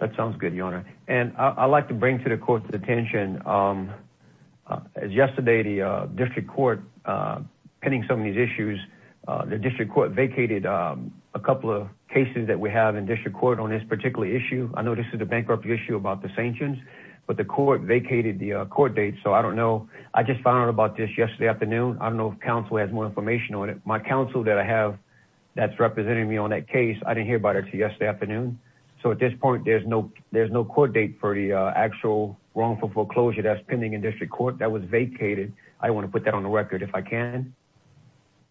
That sounds good, your honor. And I'd like to bring to the court's attention, as yesterday, the district court pending some of these issues, the district court vacated a couple of cases that we have in district court on this particular issue. I know this is a bankruptcy issue about the Sanchins, but the court vacated the court date. So I don't know. I just found out about this yesterday afternoon. I don't know if counsel has more information on it. My counsel that I have that's representing me on that case, I didn't hear about it until yesterday afternoon. So at this point, there's no, there's no court date for the actual wrongful foreclosure that's pending in district court that was vacated. I want to put that on the record if I can.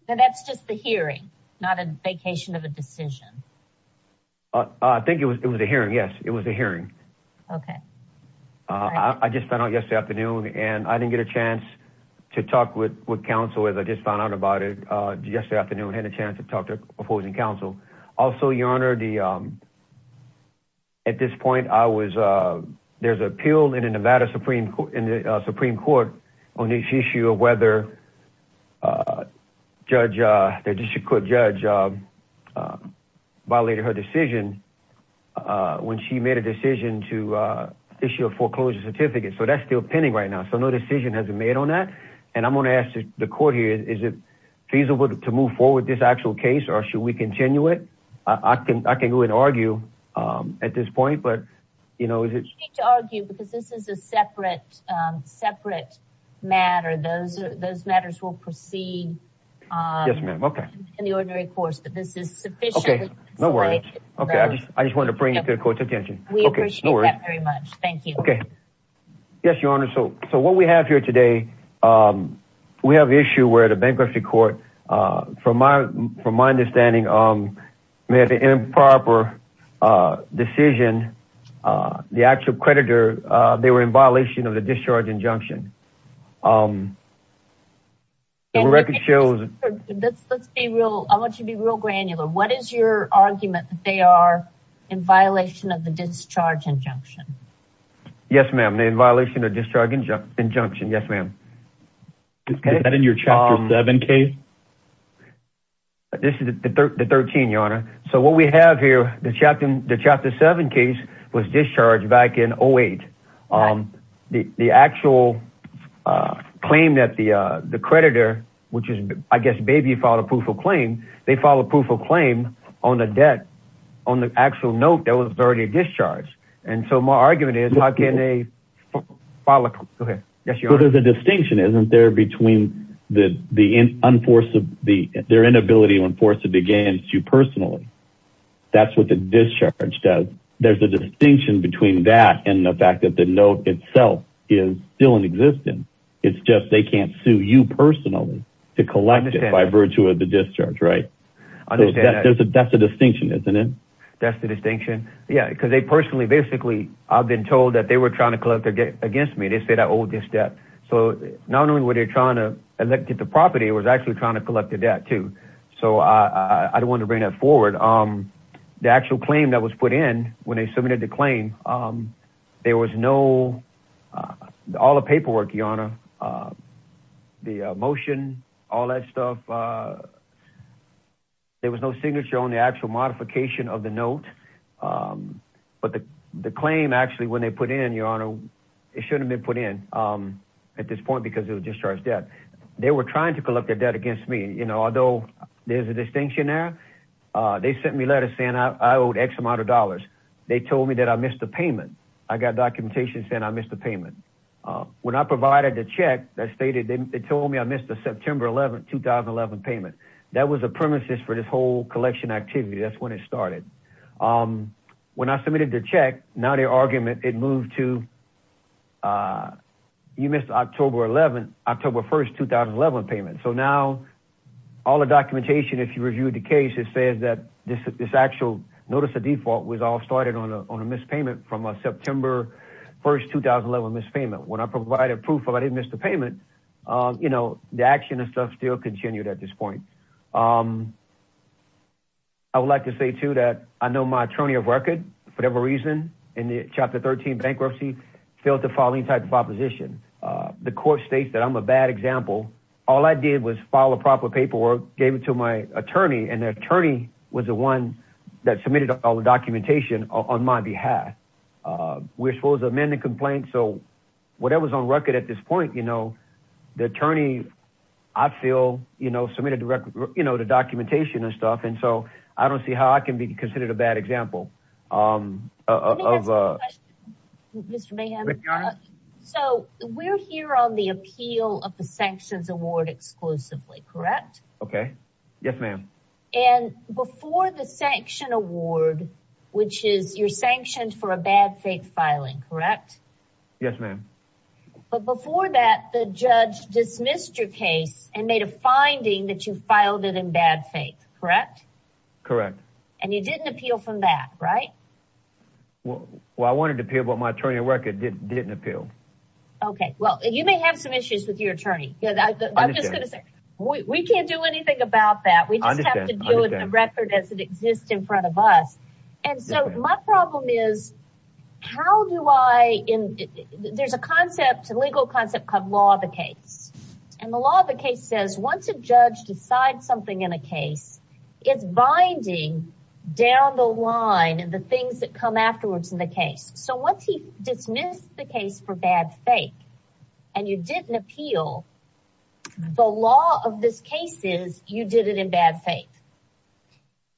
That's just the hearing, not a vacation of a decision. I think it was, it was a hearing. Yes. It was a hearing. Okay. I just found out yesterday afternoon and I didn't get a chance to talk with, with counsel as I just found out about it yesterday afternoon, had a chance to talk to opposing counsel. Also, your honor, the, at this point I was, there's appeal in the Nevada Supreme Supreme court on this issue of whether judge, the district court judge violated her decision when she made a decision to issue a foreclosure certificate. So that's still pending right now. So no decision has been made on that. And I'm going to ask the court here, is it feasible to move forward with this actual case? Or should we continue it? I can, I can go and argue at this point, but you know, is it to argue because this is a separate separate matter, those, those matters will proceed in the ordinary course, but this is sufficient. Okay. No worries. Okay. I just, I just wanted to bring it to the court's attention. Okay. Thank you. Okay. So, so what we have here today we have issue where the bankruptcy court from my, from my understanding made an improper decision. The actual creditor, they were in violation of the discharge injunction. Let's be real, I want you to be real granular. What is your argument that they are in violation of the discharge injunction? Yes ma'am. They're in violation of discharge injunction. Yes ma'am. Is that in your chapter seven case? This is the 13th your Honor. So what we have here, the chapter seven case was discharged back in 08. The actual claim that the, the creditor, which is, I guess, maybe filed a proof of claim. They filed a proof of claim on a debt on the actual note that was already discharged. And so my argument is how can they file a, go ahead, yes your Honor. So there's a distinction, isn't there, between the, the enforce of the, their inability to enforce it against you personally. That's what the discharge does. There's a distinction between that and the fact that the note itself is still in existence. It's just, they can't sue you personally to collect it by virtue of the discharge, right? So that's a, that's a distinction, isn't it? That's the distinction. Yeah. Cause they personally, basically I've been told that they were trying to collect their debt against me. They said, I owe this debt. So not only were they trying to elected the property, it was actually trying to collect the debt too. So I, I, I don't want to bring that forward. The actual claim that was put in when they submitted the claim, there was no, all the paperwork, your Honor, the motion, all that stuff. There was no signature on the actual modification of the note. But the, the claim actually, when they put in, your Honor, it shouldn't have been put in at this point because it was discharged debt. They were trying to collect their debt against me. You know, although there's a distinction there, they sent me a letter saying I owed X amount of dollars. They told me that I missed the payment. I got documentation saying I missed the payment. When I provided the check that stated, they told me I missed the September 11th, 2011 payment. That was a premises for this whole collection activity. That's when it started. When I submitted the check, now the argument, it moved to, you missed October 11th, October 1st, 2011 payment. So now all the documentation, if you reviewed the case, it says that this, this actual notice of default was all started on a, on a mispayment from a September 1st, 2011 mispayment. When I provided proof of I didn't miss the payment, you know, the action and stuff still continued at this point. Um, I would like to say too, that I know my attorney of record, for whatever reason, in the chapter 13 bankruptcy failed to file any type of opposition. The court states that I'm a bad example. All I did was file a proper paperwork, gave it to my attorney and the attorney was the one that submitted all the documentation on my behalf. We're supposed to amend the complaint. So whatever was on record at this point, you know, the attorney, I feel, you know, submitted the record, you know, the documentation and stuff. And so I don't see how I can be considered a bad example, um, of, uh, Mr. Mayhem. So we're here on the appeal of the sanctions award exclusively, correct? Okay. Yes, ma'am. And before the sanction award, which is you're sanctioned for a bad fake filing, correct? Yes, ma'am. But before that, the judge dismissed your case and made a finding that you filed it in bad faith, correct? Correct. And you didn't appeal from that, right? Well, I wanted to appeal, but my attorney of record didn't appeal. Okay. Well, you may have some issues with your attorney. I'm just going to say, we can't do anything about that. We just have to deal with the record as it exists in front of us. And so my problem is how do I, there's a concept, a legal concept called law of the case. And the law of the case says once a judge decides something in a case, it's binding down the line and the things that come afterwards in the case. So once he dismissed the case for bad fake and you didn't appeal, the law of this case is you did it in bad faith.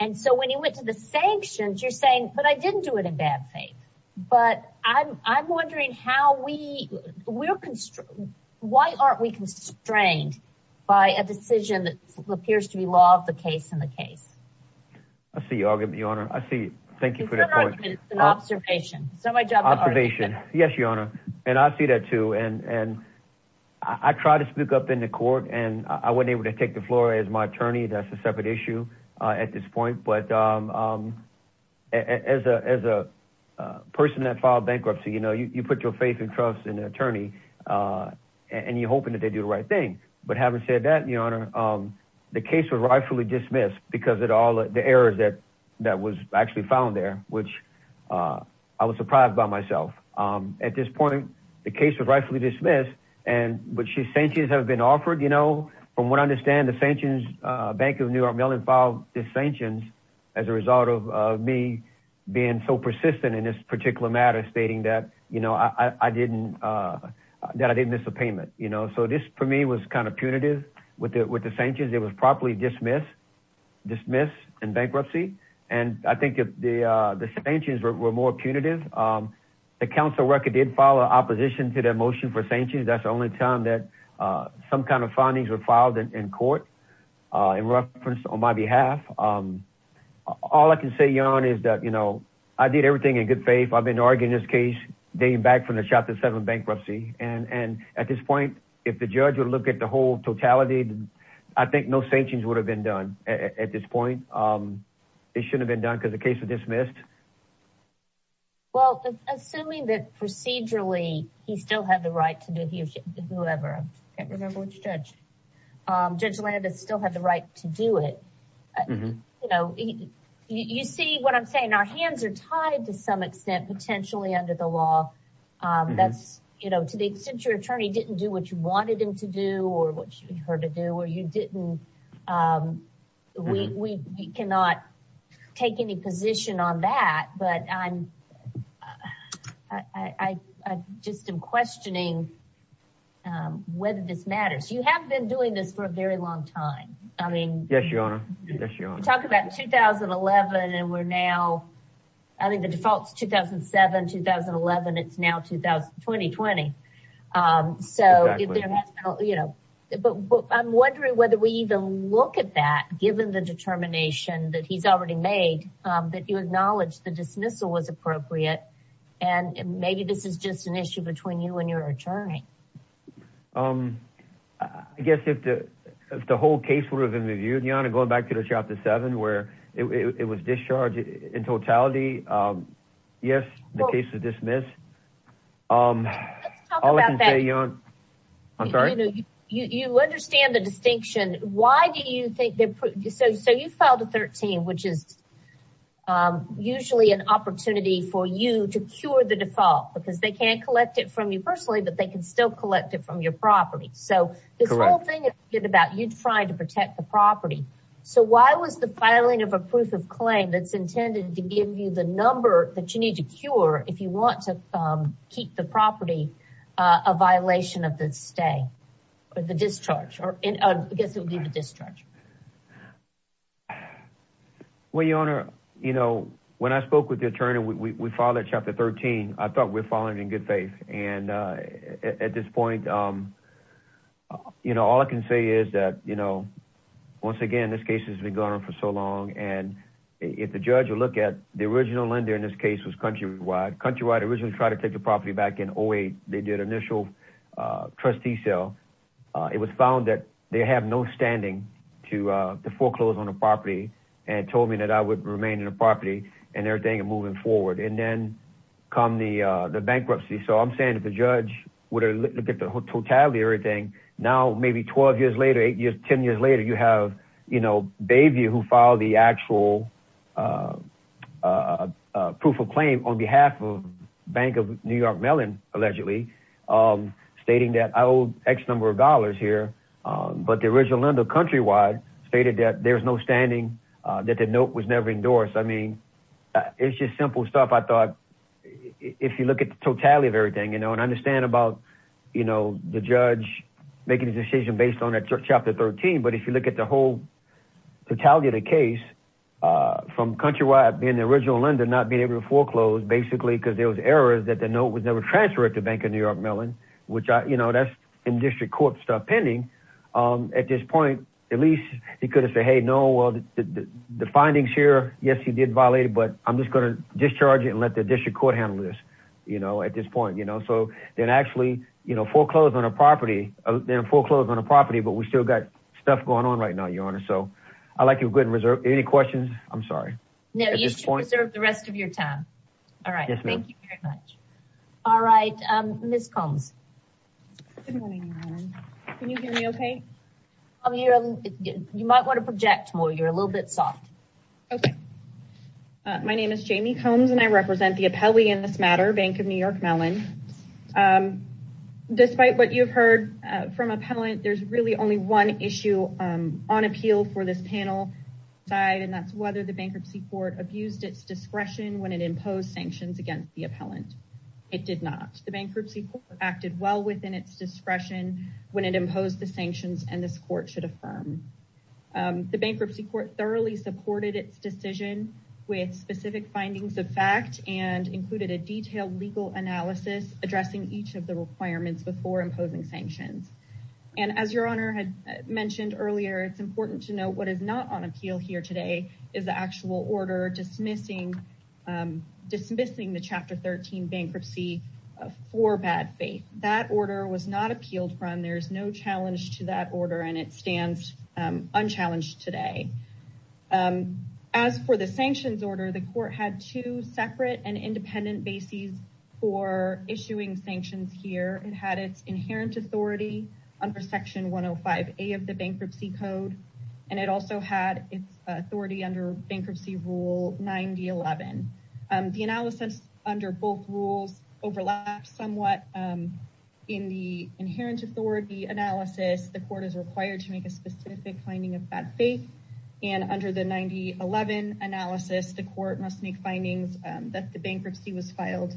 And so when he went to the sanctions, you're saying, but I didn't do it in bad faith, but I'm wondering how we, why aren't we constrained by a decision that appears to be law of the case in the case? I see your argument, Your Honor. Thank you for that point. It's not an argument, it's an observation. It's not my job to argue. Observation. Yes, Your Honor. And I see that too. And I tried to speak up in the court and I wasn't able to take the floor as my attorney. That's a separate issue at this point. But as a person that filed bankruptcy, you know, you put your faith and trust in an attorney and you're hoping that they do the right thing. But having said that, Your Honor, the case was rightfully dismissed because of all the errors that was actually found there, which I was surprised by myself. At this point, the case was rightfully dismissed. But sanctions have been offered, you know, from what I understand, the sanctions, Bank of New York Mellon filed the sanctions as a result of me being so persistent in this particular matter, stating that, you know, I didn't, that I didn't miss a payment, you know, so this for me was kind of punitive with the sanctions. It was properly dismissed, dismissed in bankruptcy. And I think the sanctions were more punitive. The council record did follow opposition to that motion for sanctions. That's the only time that some kind of findings were filed in court in reference on my behalf. All I can say, Your Honor, is that, you know, I did everything in good faith. I've been arguing this case dating back from the Chapter 7 bankruptcy. And at this point, if the judge would look at the whole totality, I think no sanctions would have been done at this point. It shouldn't have been done because the case was dismissed. Well, assuming that procedurally, he still had the right to do he or she, whoever, I can't remember which judge, Judge Landis still had the right to do it. You know, you see what I'm saying, our hands are tied to some extent, potentially under the law. That's, you know, to the extent your attorney didn't do what you wanted him to do or what you wanted him to do. I cannot take any position on that, but I just am questioning whether this matters. You have been doing this for a very long time. I mean, yes, Your Honor, talk about 2011 and we're now, I think the defaults 2007, 2011. It's now 2020. So, you know, but I'm wondering whether we even look at that given the determination that he's already made that you acknowledge the dismissal was appropriate. And maybe this is just an issue between you and your attorney. I guess if the whole case would have been reviewed, Your Honor, going back to the Chapter 13, which is usually an opportunity for you to cure the default because they can't collect it from you personally, but they can still collect it from your property. So this whole thing is about you trying to protect the property. So why was the filing of a proof of claim that's intended to give you the number that you need to cure if you want to keep the property, a violation of the stay or the discharge or I guess it would be the discharge. Well, Your Honor, you know, when I spoke with the attorney, we filed a Chapter 13. I thought we were following it in good faith. And at this point, you know, all I can say is that, you know, once again, this case has been going on for so long. And if the judge will look at the original lender in this case was Countrywide. Countrywide originally tried to take the property back in 08. They did initial trustee sale. It was found that they have no standing to foreclose on a property and told me that I would remain in the property and everything moving forward. And then come the bankruptcy. So I'm saying that the judge would look at the totality of everything. Now, maybe 12 years later, 8 years, 10 years later, you have, you know, Bayview who filed the actual proof of claim on behalf of Bank of New York Mellon, allegedly stating that I owe X number of dollars here. But the original lender Countrywide stated that there's no standing, that the note was never endorsed. I mean, it's just simple stuff. I thought if you look at the totality of everything, you know, and I understand about, you know, the judge making a decision based on that chapter 13. But if you look at the whole totality of the case from Countrywide being the original lender, not being able to foreclose basically because there was errors that the note was never transferred to Bank of New York Mellon, which, you know, that's in district court stuff pending. At this point, at least he could have said, hey, no, the findings here, yes, he did violate, but I'm just going to discharge it and let the district court handle this, you know, at this point, you know, so then actually, you know, foreclose on a property, then foreclose on a property, but we still got stuff going on right now, Your Honor. So I'd like you to go ahead and reserve, any questions? I'm sorry. No, you should reserve the rest of your time. All right. Thank you very much. All right. Ms. Combs. Good morning, Your Honor. Can you hear me okay? You might want to project more. You're a little bit soft. Okay. My name is Jamie Combs and I represent the appellee in this matter, Bank of New York Mellon. Despite what you've heard from appellant, there's really only one issue on appeal for this panel side, and that's whether the bankruptcy court abused its discretion when it imposed sanctions against the appellant. It did not. The bankruptcy court acted well within its discretion when it imposed the sanctions and this court should affirm. The bankruptcy court thoroughly supported its decision with specific findings of fact and included a detailed legal analysis addressing each of the requirements before imposing sanctions. And as Your Honor had mentioned earlier, it's important to know what is not on appeal here today is the actual order dismissing the Chapter 13 bankruptcy for bad faith. That order was not appealed from. There's no challenge to that order and it stands unchallenged today. As for the sanctions order, the court had two separate and independent bases for issuing sanctions here. It had its inherent authority under Section 105A of the Bankruptcy Code, and it also had its authority under Bankruptcy Rule 9011. The analysis under both rules overlaps somewhat in the inherent authority analysis. The court is required to make a specific finding of bad faith, and under the 9011 analysis, the court must make findings that the bankruptcy was filed,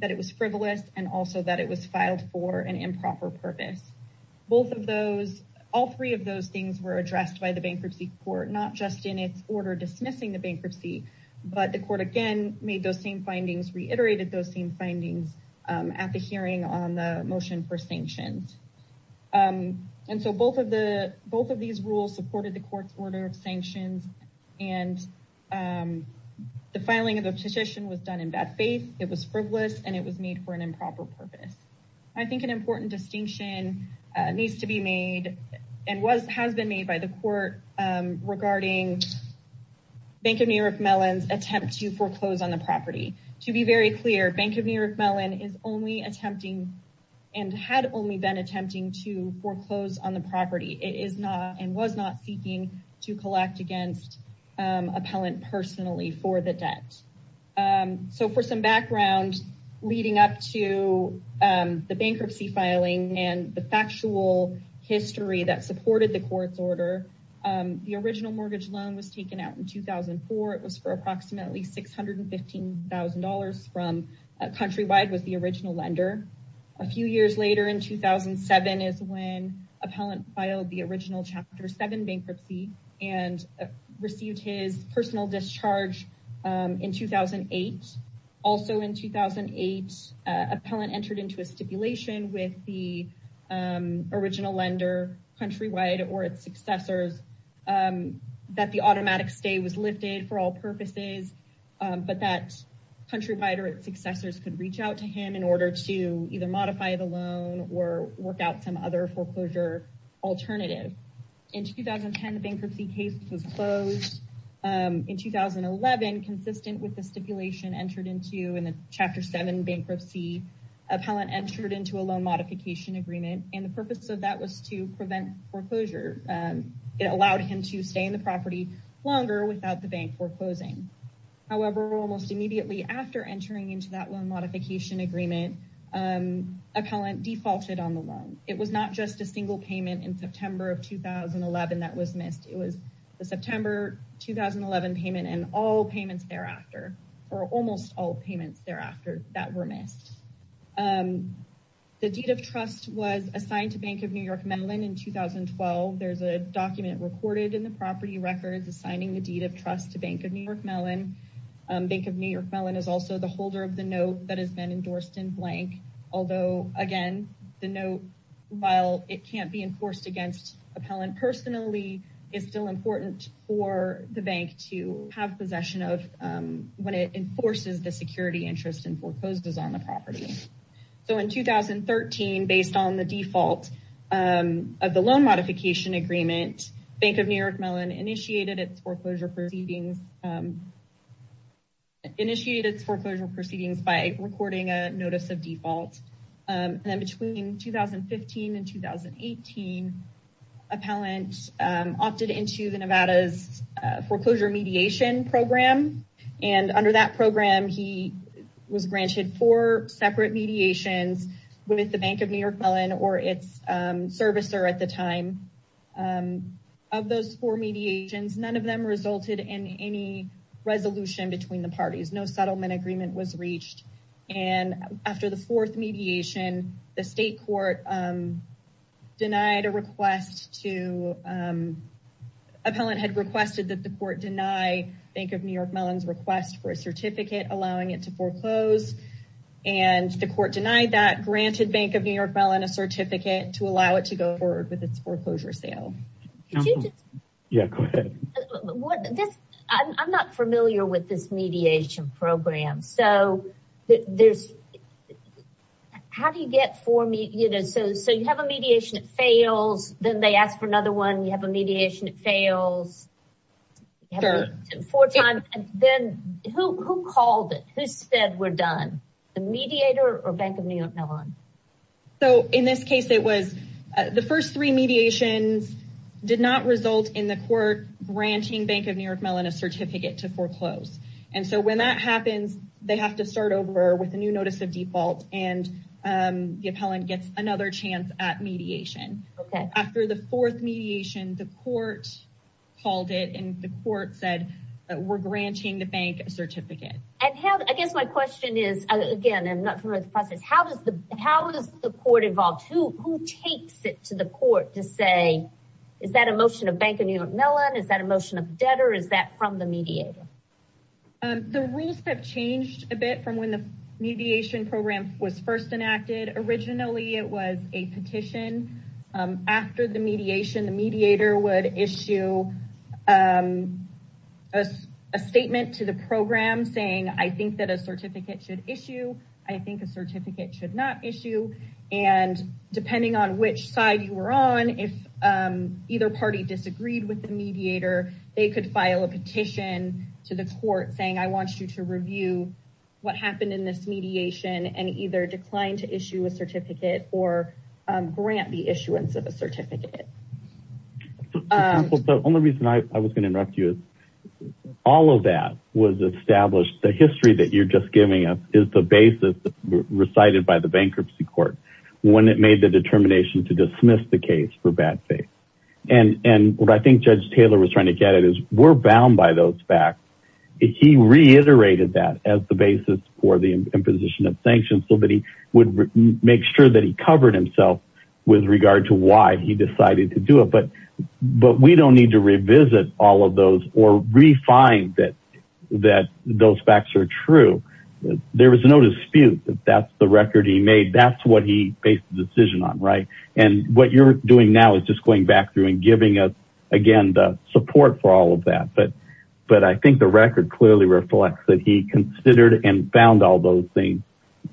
that it was frivolous, and also that it was filed for an improper purpose. Both of those, all three of those things were addressed by the bankruptcy court, not just in its order dismissing the bankruptcy, but the court again made those same findings, reiterated those same findings at the hearing on the motion for sanctions. And so both of these rules supported the court's order of sanctions, and the filing of the petition was done in bad faith, it was frivolous, and it was made for an improper purpose. I think an important distinction needs to be made, and has been made by the court regarding Bank of New York Mellon's attempt to foreclose on the property. To be very clear, Bank of New York Mellon is only attempting, and had only been attempting to foreclose on the property, it is not, and was not seeking to collect against appellant personally for the debt. So for some background leading up to the bankruptcy filing and the factual history that supported the court's order, the original mortgage loan was taken out in 2004, it was for approximately $615,000 from, countrywide was the original lender. A few years later in 2007 is when appellant filed the original Chapter 7 bankruptcy and received his personal discharge in 2008. Also in 2008, appellant entered into a stipulation with the original lender, countrywide, or its successors, that the automatic stay was lifted for all purposes, but that countrywide or its successors could reach out to him in order to either modify the loan or work out some other foreclosure alternative. In 2010, the bankruptcy case was closed. In 2011, consistent with the stipulation entered into in the Chapter 7 bankruptcy, appellant entered into a loan modification agreement, and the purpose of that was to prevent foreclosure. It allowed him to stay in the property longer without the bank foreclosing. However, almost immediately after entering into that loan modification agreement, appellant defaulted on the loan. It was not just a single payment in September of 2011 that was missed. It was the September 2011 payment and all payments thereafter, or almost all payments thereafter, that were missed. The deed of trust was assigned to Bank of New York Mellon in 2012. There's a document recorded in the property records assigning the deed of trust to Bank of New York Mellon. Bank of New York Mellon is also the holder of the note that has been endorsed in blank, although, again, the note, while it can't be enforced against appellant personally, is still important for the bank to have possession of when it enforces the security interest and foreclosures on the property. In 2013, based on the default of the loan modification agreement, Bank of New York Mellon initiated its foreclosure proceedings by recording a notice of default. Between 2015 and 2018, appellant opted into the Nevada's foreclosure mediation program. Under that program, he was granted four separate mediations with the Bank of New York Mellon or its servicer at the time. Of those four mediations, none of them resulted in any resolution between the parties. No settlement agreement was reached. After the fourth mediation, the state court denied a request to—appellant had requested that the court deny Bank of New York Mellon's request for a certificate allowing it to foreclose. The court denied that, granted Bank of New York Mellon a certificate to allow it to go forward with its foreclosure sale. Could you just— Yeah, go ahead. I'm not familiar with this mediation program. So, there's—how do you get four—so you have a mediation that fails, then they ask for another one, you have a mediation that fails. Sure. Four times. Then, who called it? Who said, we're done? The mediator or Bank of New York Mellon? So, in this case, it was—the first three mediations did not result in the court granting Bank of New York Mellon a certificate to foreclose. And so, when that happens, they have to start over with a new notice of default and the appellant gets another chance at mediation. After the fourth mediation, the court called it and the court said, we're granting the bank a certificate. And how—I guess my question is, again, I'm not familiar with the process, how is the court involved? Who takes it to the court to say, is that a motion of Bank of New York Mellon? Is that a motion of debtor? Is that from the mediator? The rules have changed a bit from when the mediation program was first enacted. Originally, it was a petition. After the mediation, the mediator would issue a statement to the program saying, I think that a certificate should issue. I think a certificate should not issue. And depending on which side you were on, if either party disagreed with the mediator, they could file a petition to the court saying, I want you to review what happened in this the issuance of a certificate. The only reason I was going to interrupt you is, all of that was established. The history that you're just giving us is the basis recited by the bankruptcy court when it made the determination to dismiss the case for bad faith. And what I think Judge Taylor was trying to get at is, we're bound by those facts. He reiterated that as the basis for the imposition of sanctions so that he would make sure that he covered himself with regard to why he decided to do it. But we don't need to revisit all of those or re-find that those facts are true. There was no dispute that that's the record he made. That's what he based the decision on, right? And what you're doing now is just going back through and giving us, again, the support for all of that. But I think the record clearly reflects that he considered and found all those things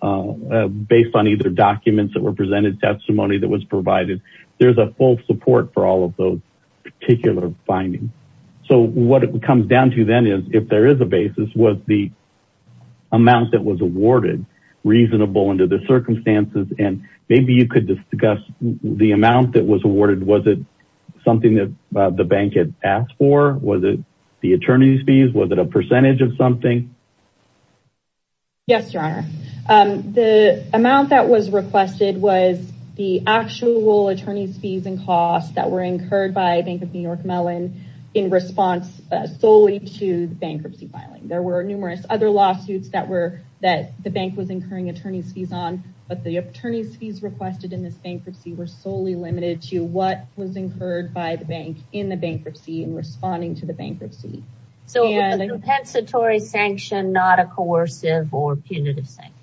based on either documents that were presented, testimony that was provided. There's a full support for all of those particular findings. So what it comes down to then is, if there is a basis, was the amount that was awarded reasonable under the circumstances? And maybe you could discuss the amount that was awarded. Was it something that the bank had asked for? Was it the attorney's fees? Was it a percentage of something? Yes, Your Honor. The amount that was requested was the actual attorney's fees and costs that were incurred by Bank of New York Mellon in response solely to the bankruptcy filing. There were numerous other lawsuits that the bank was incurring attorney's fees on. But the attorney's fees requested in this bankruptcy were solely limited to what was incurred by the bank in the bankruptcy and responding to the bankruptcy. So it was a compensatory sanction, not a coercive or punitive sanction?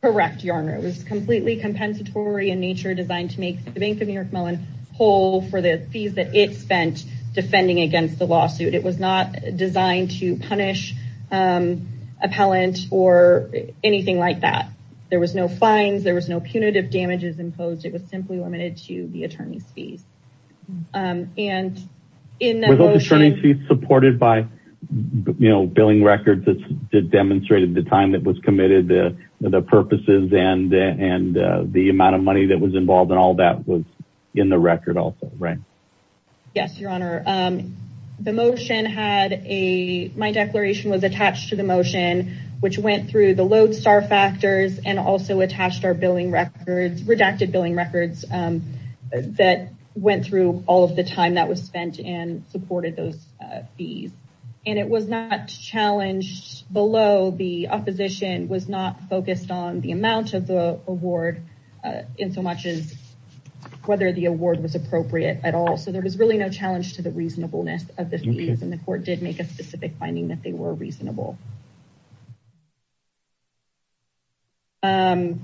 Correct, Your Honor. It was completely compensatory in nature, designed to make the Bank of New York Mellon whole for the fees that it spent defending against the lawsuit. It was not designed to punish appellant or anything like that. There was no fines. There was no punitive damages imposed. It was simply limited to the attorney's fees. Were the attorney's fees supported by billing records that demonstrated the time that was committed, the purposes, and the amount of money that was involved in all that was in the record also, right? Yes, Your Honor. My declaration was attached to the motion, which went through the lodestar factors and also attached our billing records, redacted billing records that went through all of the time that was spent and supported those fees. And it was not challenged below. The opposition was not focused on the amount of the award in so much as whether the award was appropriate at all. So there was really no challenge to the reasonableness of the fees. And the court did make a specific finding that they were reasonable. And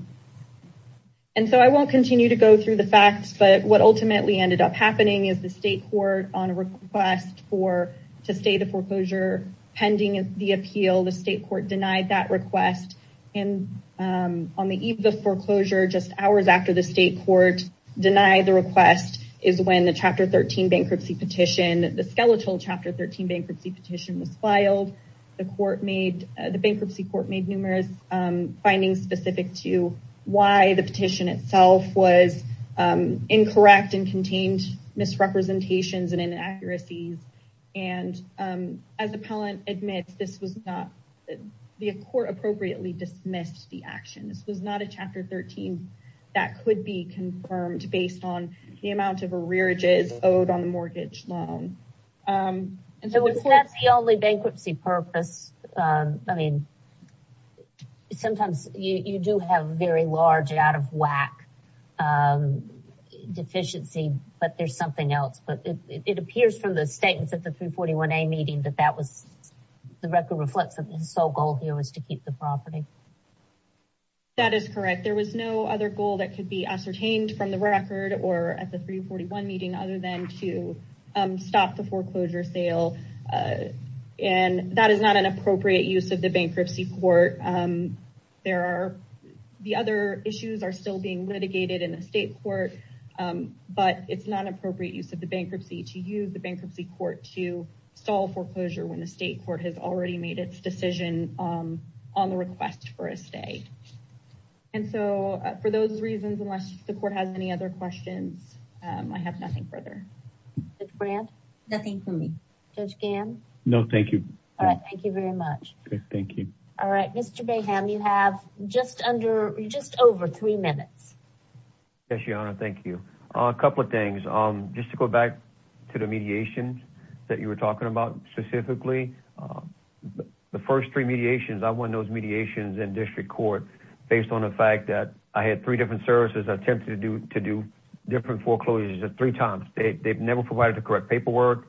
so I won't continue to go through the facts, but what ultimately ended up happening is the state court on a request to stay the foreclosure pending the appeal. The state court denied that request. And on the eve of the foreclosure, just hours after the state court denied the request, is when the Chapter 13 bankruptcy petition, the skeletal Chapter 13 bankruptcy petition was filed. The bankruptcy court made numerous findings specific to why the petition itself was incorrect and contained misrepresentations and inaccuracies. And as the appellant admits, the court appropriately dismissed the action. This was not a Chapter 13 that could be confirmed based on the amount of arrearages owed on the mortgage loan. So if that's the only bankruptcy purpose, I mean, sometimes you do have very large out of whack deficiency, but there's something else. But it appears from the statements at the 341A meeting that that was the record reflects that the sole goal here was to keep the property. That is correct. There was no other goal that could be ascertained from the record or at the 341 meeting other than to stop the foreclosure sale. And that is not an appropriate use of the bankruptcy court. The other issues are still being litigated in the state court, but it's not appropriate use of the bankruptcy to use the bankruptcy court to stall foreclosure when the state court has already made its decision on the request for a stay. And so for those reasons, unless the court has any other questions, I have nothing further. Nothing for me. Judge Gamm? No, thank you. Thank you very much. Thank you. All right. Mr. Baham, you have just under just over three minutes. Yes, Your Honor. Thank you. A couple of things. Just to go back to the mediation that you were talking about specifically, the first three mediations, I won those mediations in district court based on the fact that I had three different services attempted to do different foreclosures at three times. They've never provided the correct paperwork.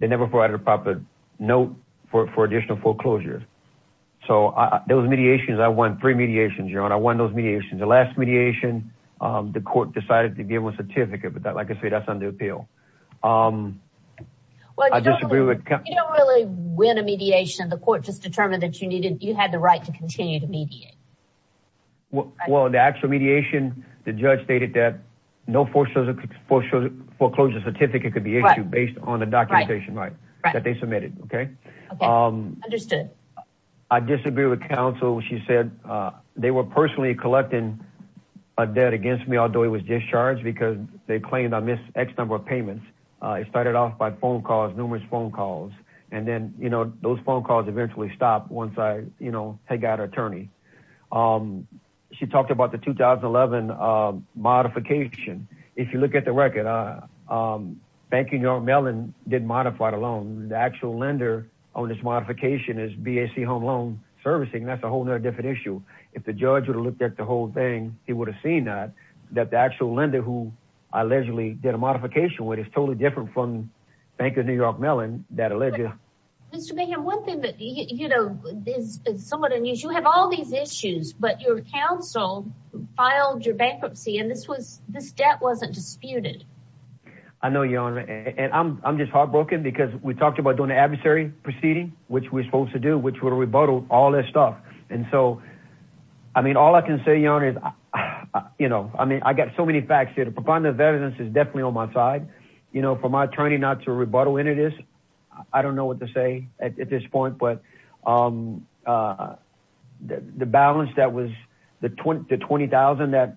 They never provided a proper note for additional foreclosures. So those mediations, I won three mediations, Your Honor. I won those mediations. The last mediation, the court decided to give them a certificate, but like I say, that's under appeal. Well, you don't really win a mediation. The court just determined that you had the right to continue to mediate. Well, the actual mediation, the judge stated that no foreclosure certificate could be issued based on the documentation that they submitted. Okay? Okay. Understood. I disagreed with counsel. She said they were personally collecting a debt against me, although it was discharged because they claimed I missed X number of payments It started off by phone calls, numerous phone calls. And then, you know, those phone calls eventually stopped once I, you know, had got an attorney. She talked about the 2011 modification. If you look at the record, Bank of New York Mellon did modify the loan. The actual lender on this modification is BAC Home Loan Servicing. That's a whole nother different issue. If the judge would have looked at the whole thing, he would have seen that, that the actual lender who allegedly did a modification with is totally different from Bank of New York Mellon that alleged. Mr. Mayhem, one thing that you know, is somewhat unusual. You have all these issues, but your counsel filed your bankruptcy. And this was, this debt wasn't disputed. I know your honor. And I'm, I'm just heartbroken because we talked about doing the adversary proceeding, which we're supposed to do, which would have rebuttal all this stuff. And so, I mean, all I can say, your honor is, you know, I mean, I got so many facts here to provide the evidence is definitely on my side, you know, for my attorney, not to rebuttal. And it is, I don't know what to say at this point, but the balance that was the 20 to 20,000 that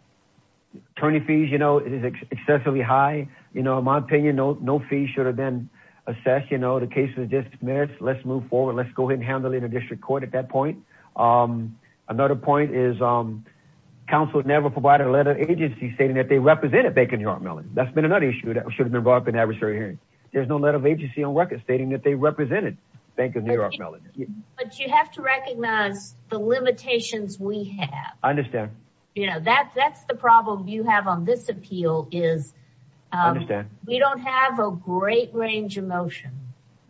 attorney fees, you know, it is excessively high. You know, in my opinion, no, no fee should have been assessed. You know, the case was just merits. Let's move forward. Let's go ahead and handle it in a district court at that point. Another point is counsel would never provide a letter agency stating that they represent a bank in New York melon. That's been another issue that should have been brought up in adversary hearing. There's no letter of agency on record stating that they represented bank in New York. But you have to recognize the limitations we have. I understand. You know, that's, that's the problem you have on this appeal is we don't have a great range of motion.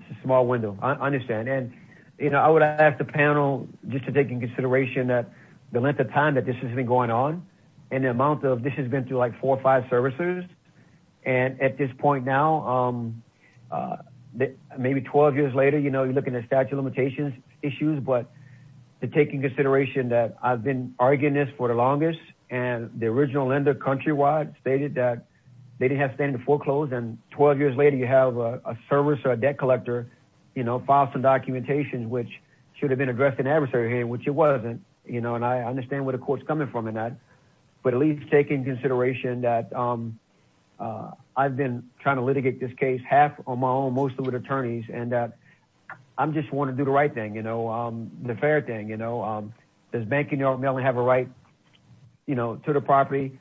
It's a small window. I understand. And, you know, I would ask the panel just to take in consideration that the length of time that this has been going on and the amount of, this has been through like four or five services. And at this point now, maybe 12 years later, you know, you're looking at statute of limitations issues, but the taking consideration that I've been arguing this for the longest and the original lender countrywide stated that they didn't have standing to foreclose. And 12 years later, you have a service or a debt collector, you know, file some documentations, which should have been addressed in adversary hearing, which it wasn't, you know, and I understand where the court's coming from in that, but at least taking consideration that I've been trying to litigate this case half on my own, mostly with attorneys and that I'm just wanting to do the right thing. You know, the fair thing, you know, does bank in New York have a right, you know, to the property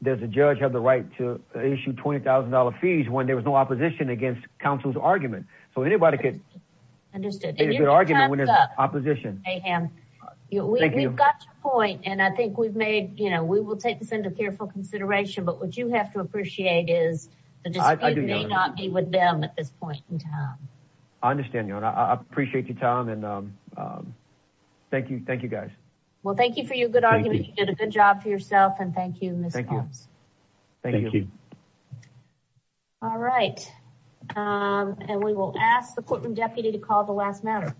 there's a judge have the right to issue $20,000 fees when there was no opposition against counsel's argument. So anybody could understood. And you're arguing when there's opposition. We've got your point. And I think we've made, you know, we will take this into careful consideration, but what you have to appreciate is the dispute may not be with them at this point in time. I understand. I appreciate your time. And thank you. Thank you guys. Well, thank you for your good argument. You did a good job for yourself. And thank you. Thank you. All right. And we will ask the courtroom deputy to call the last minute.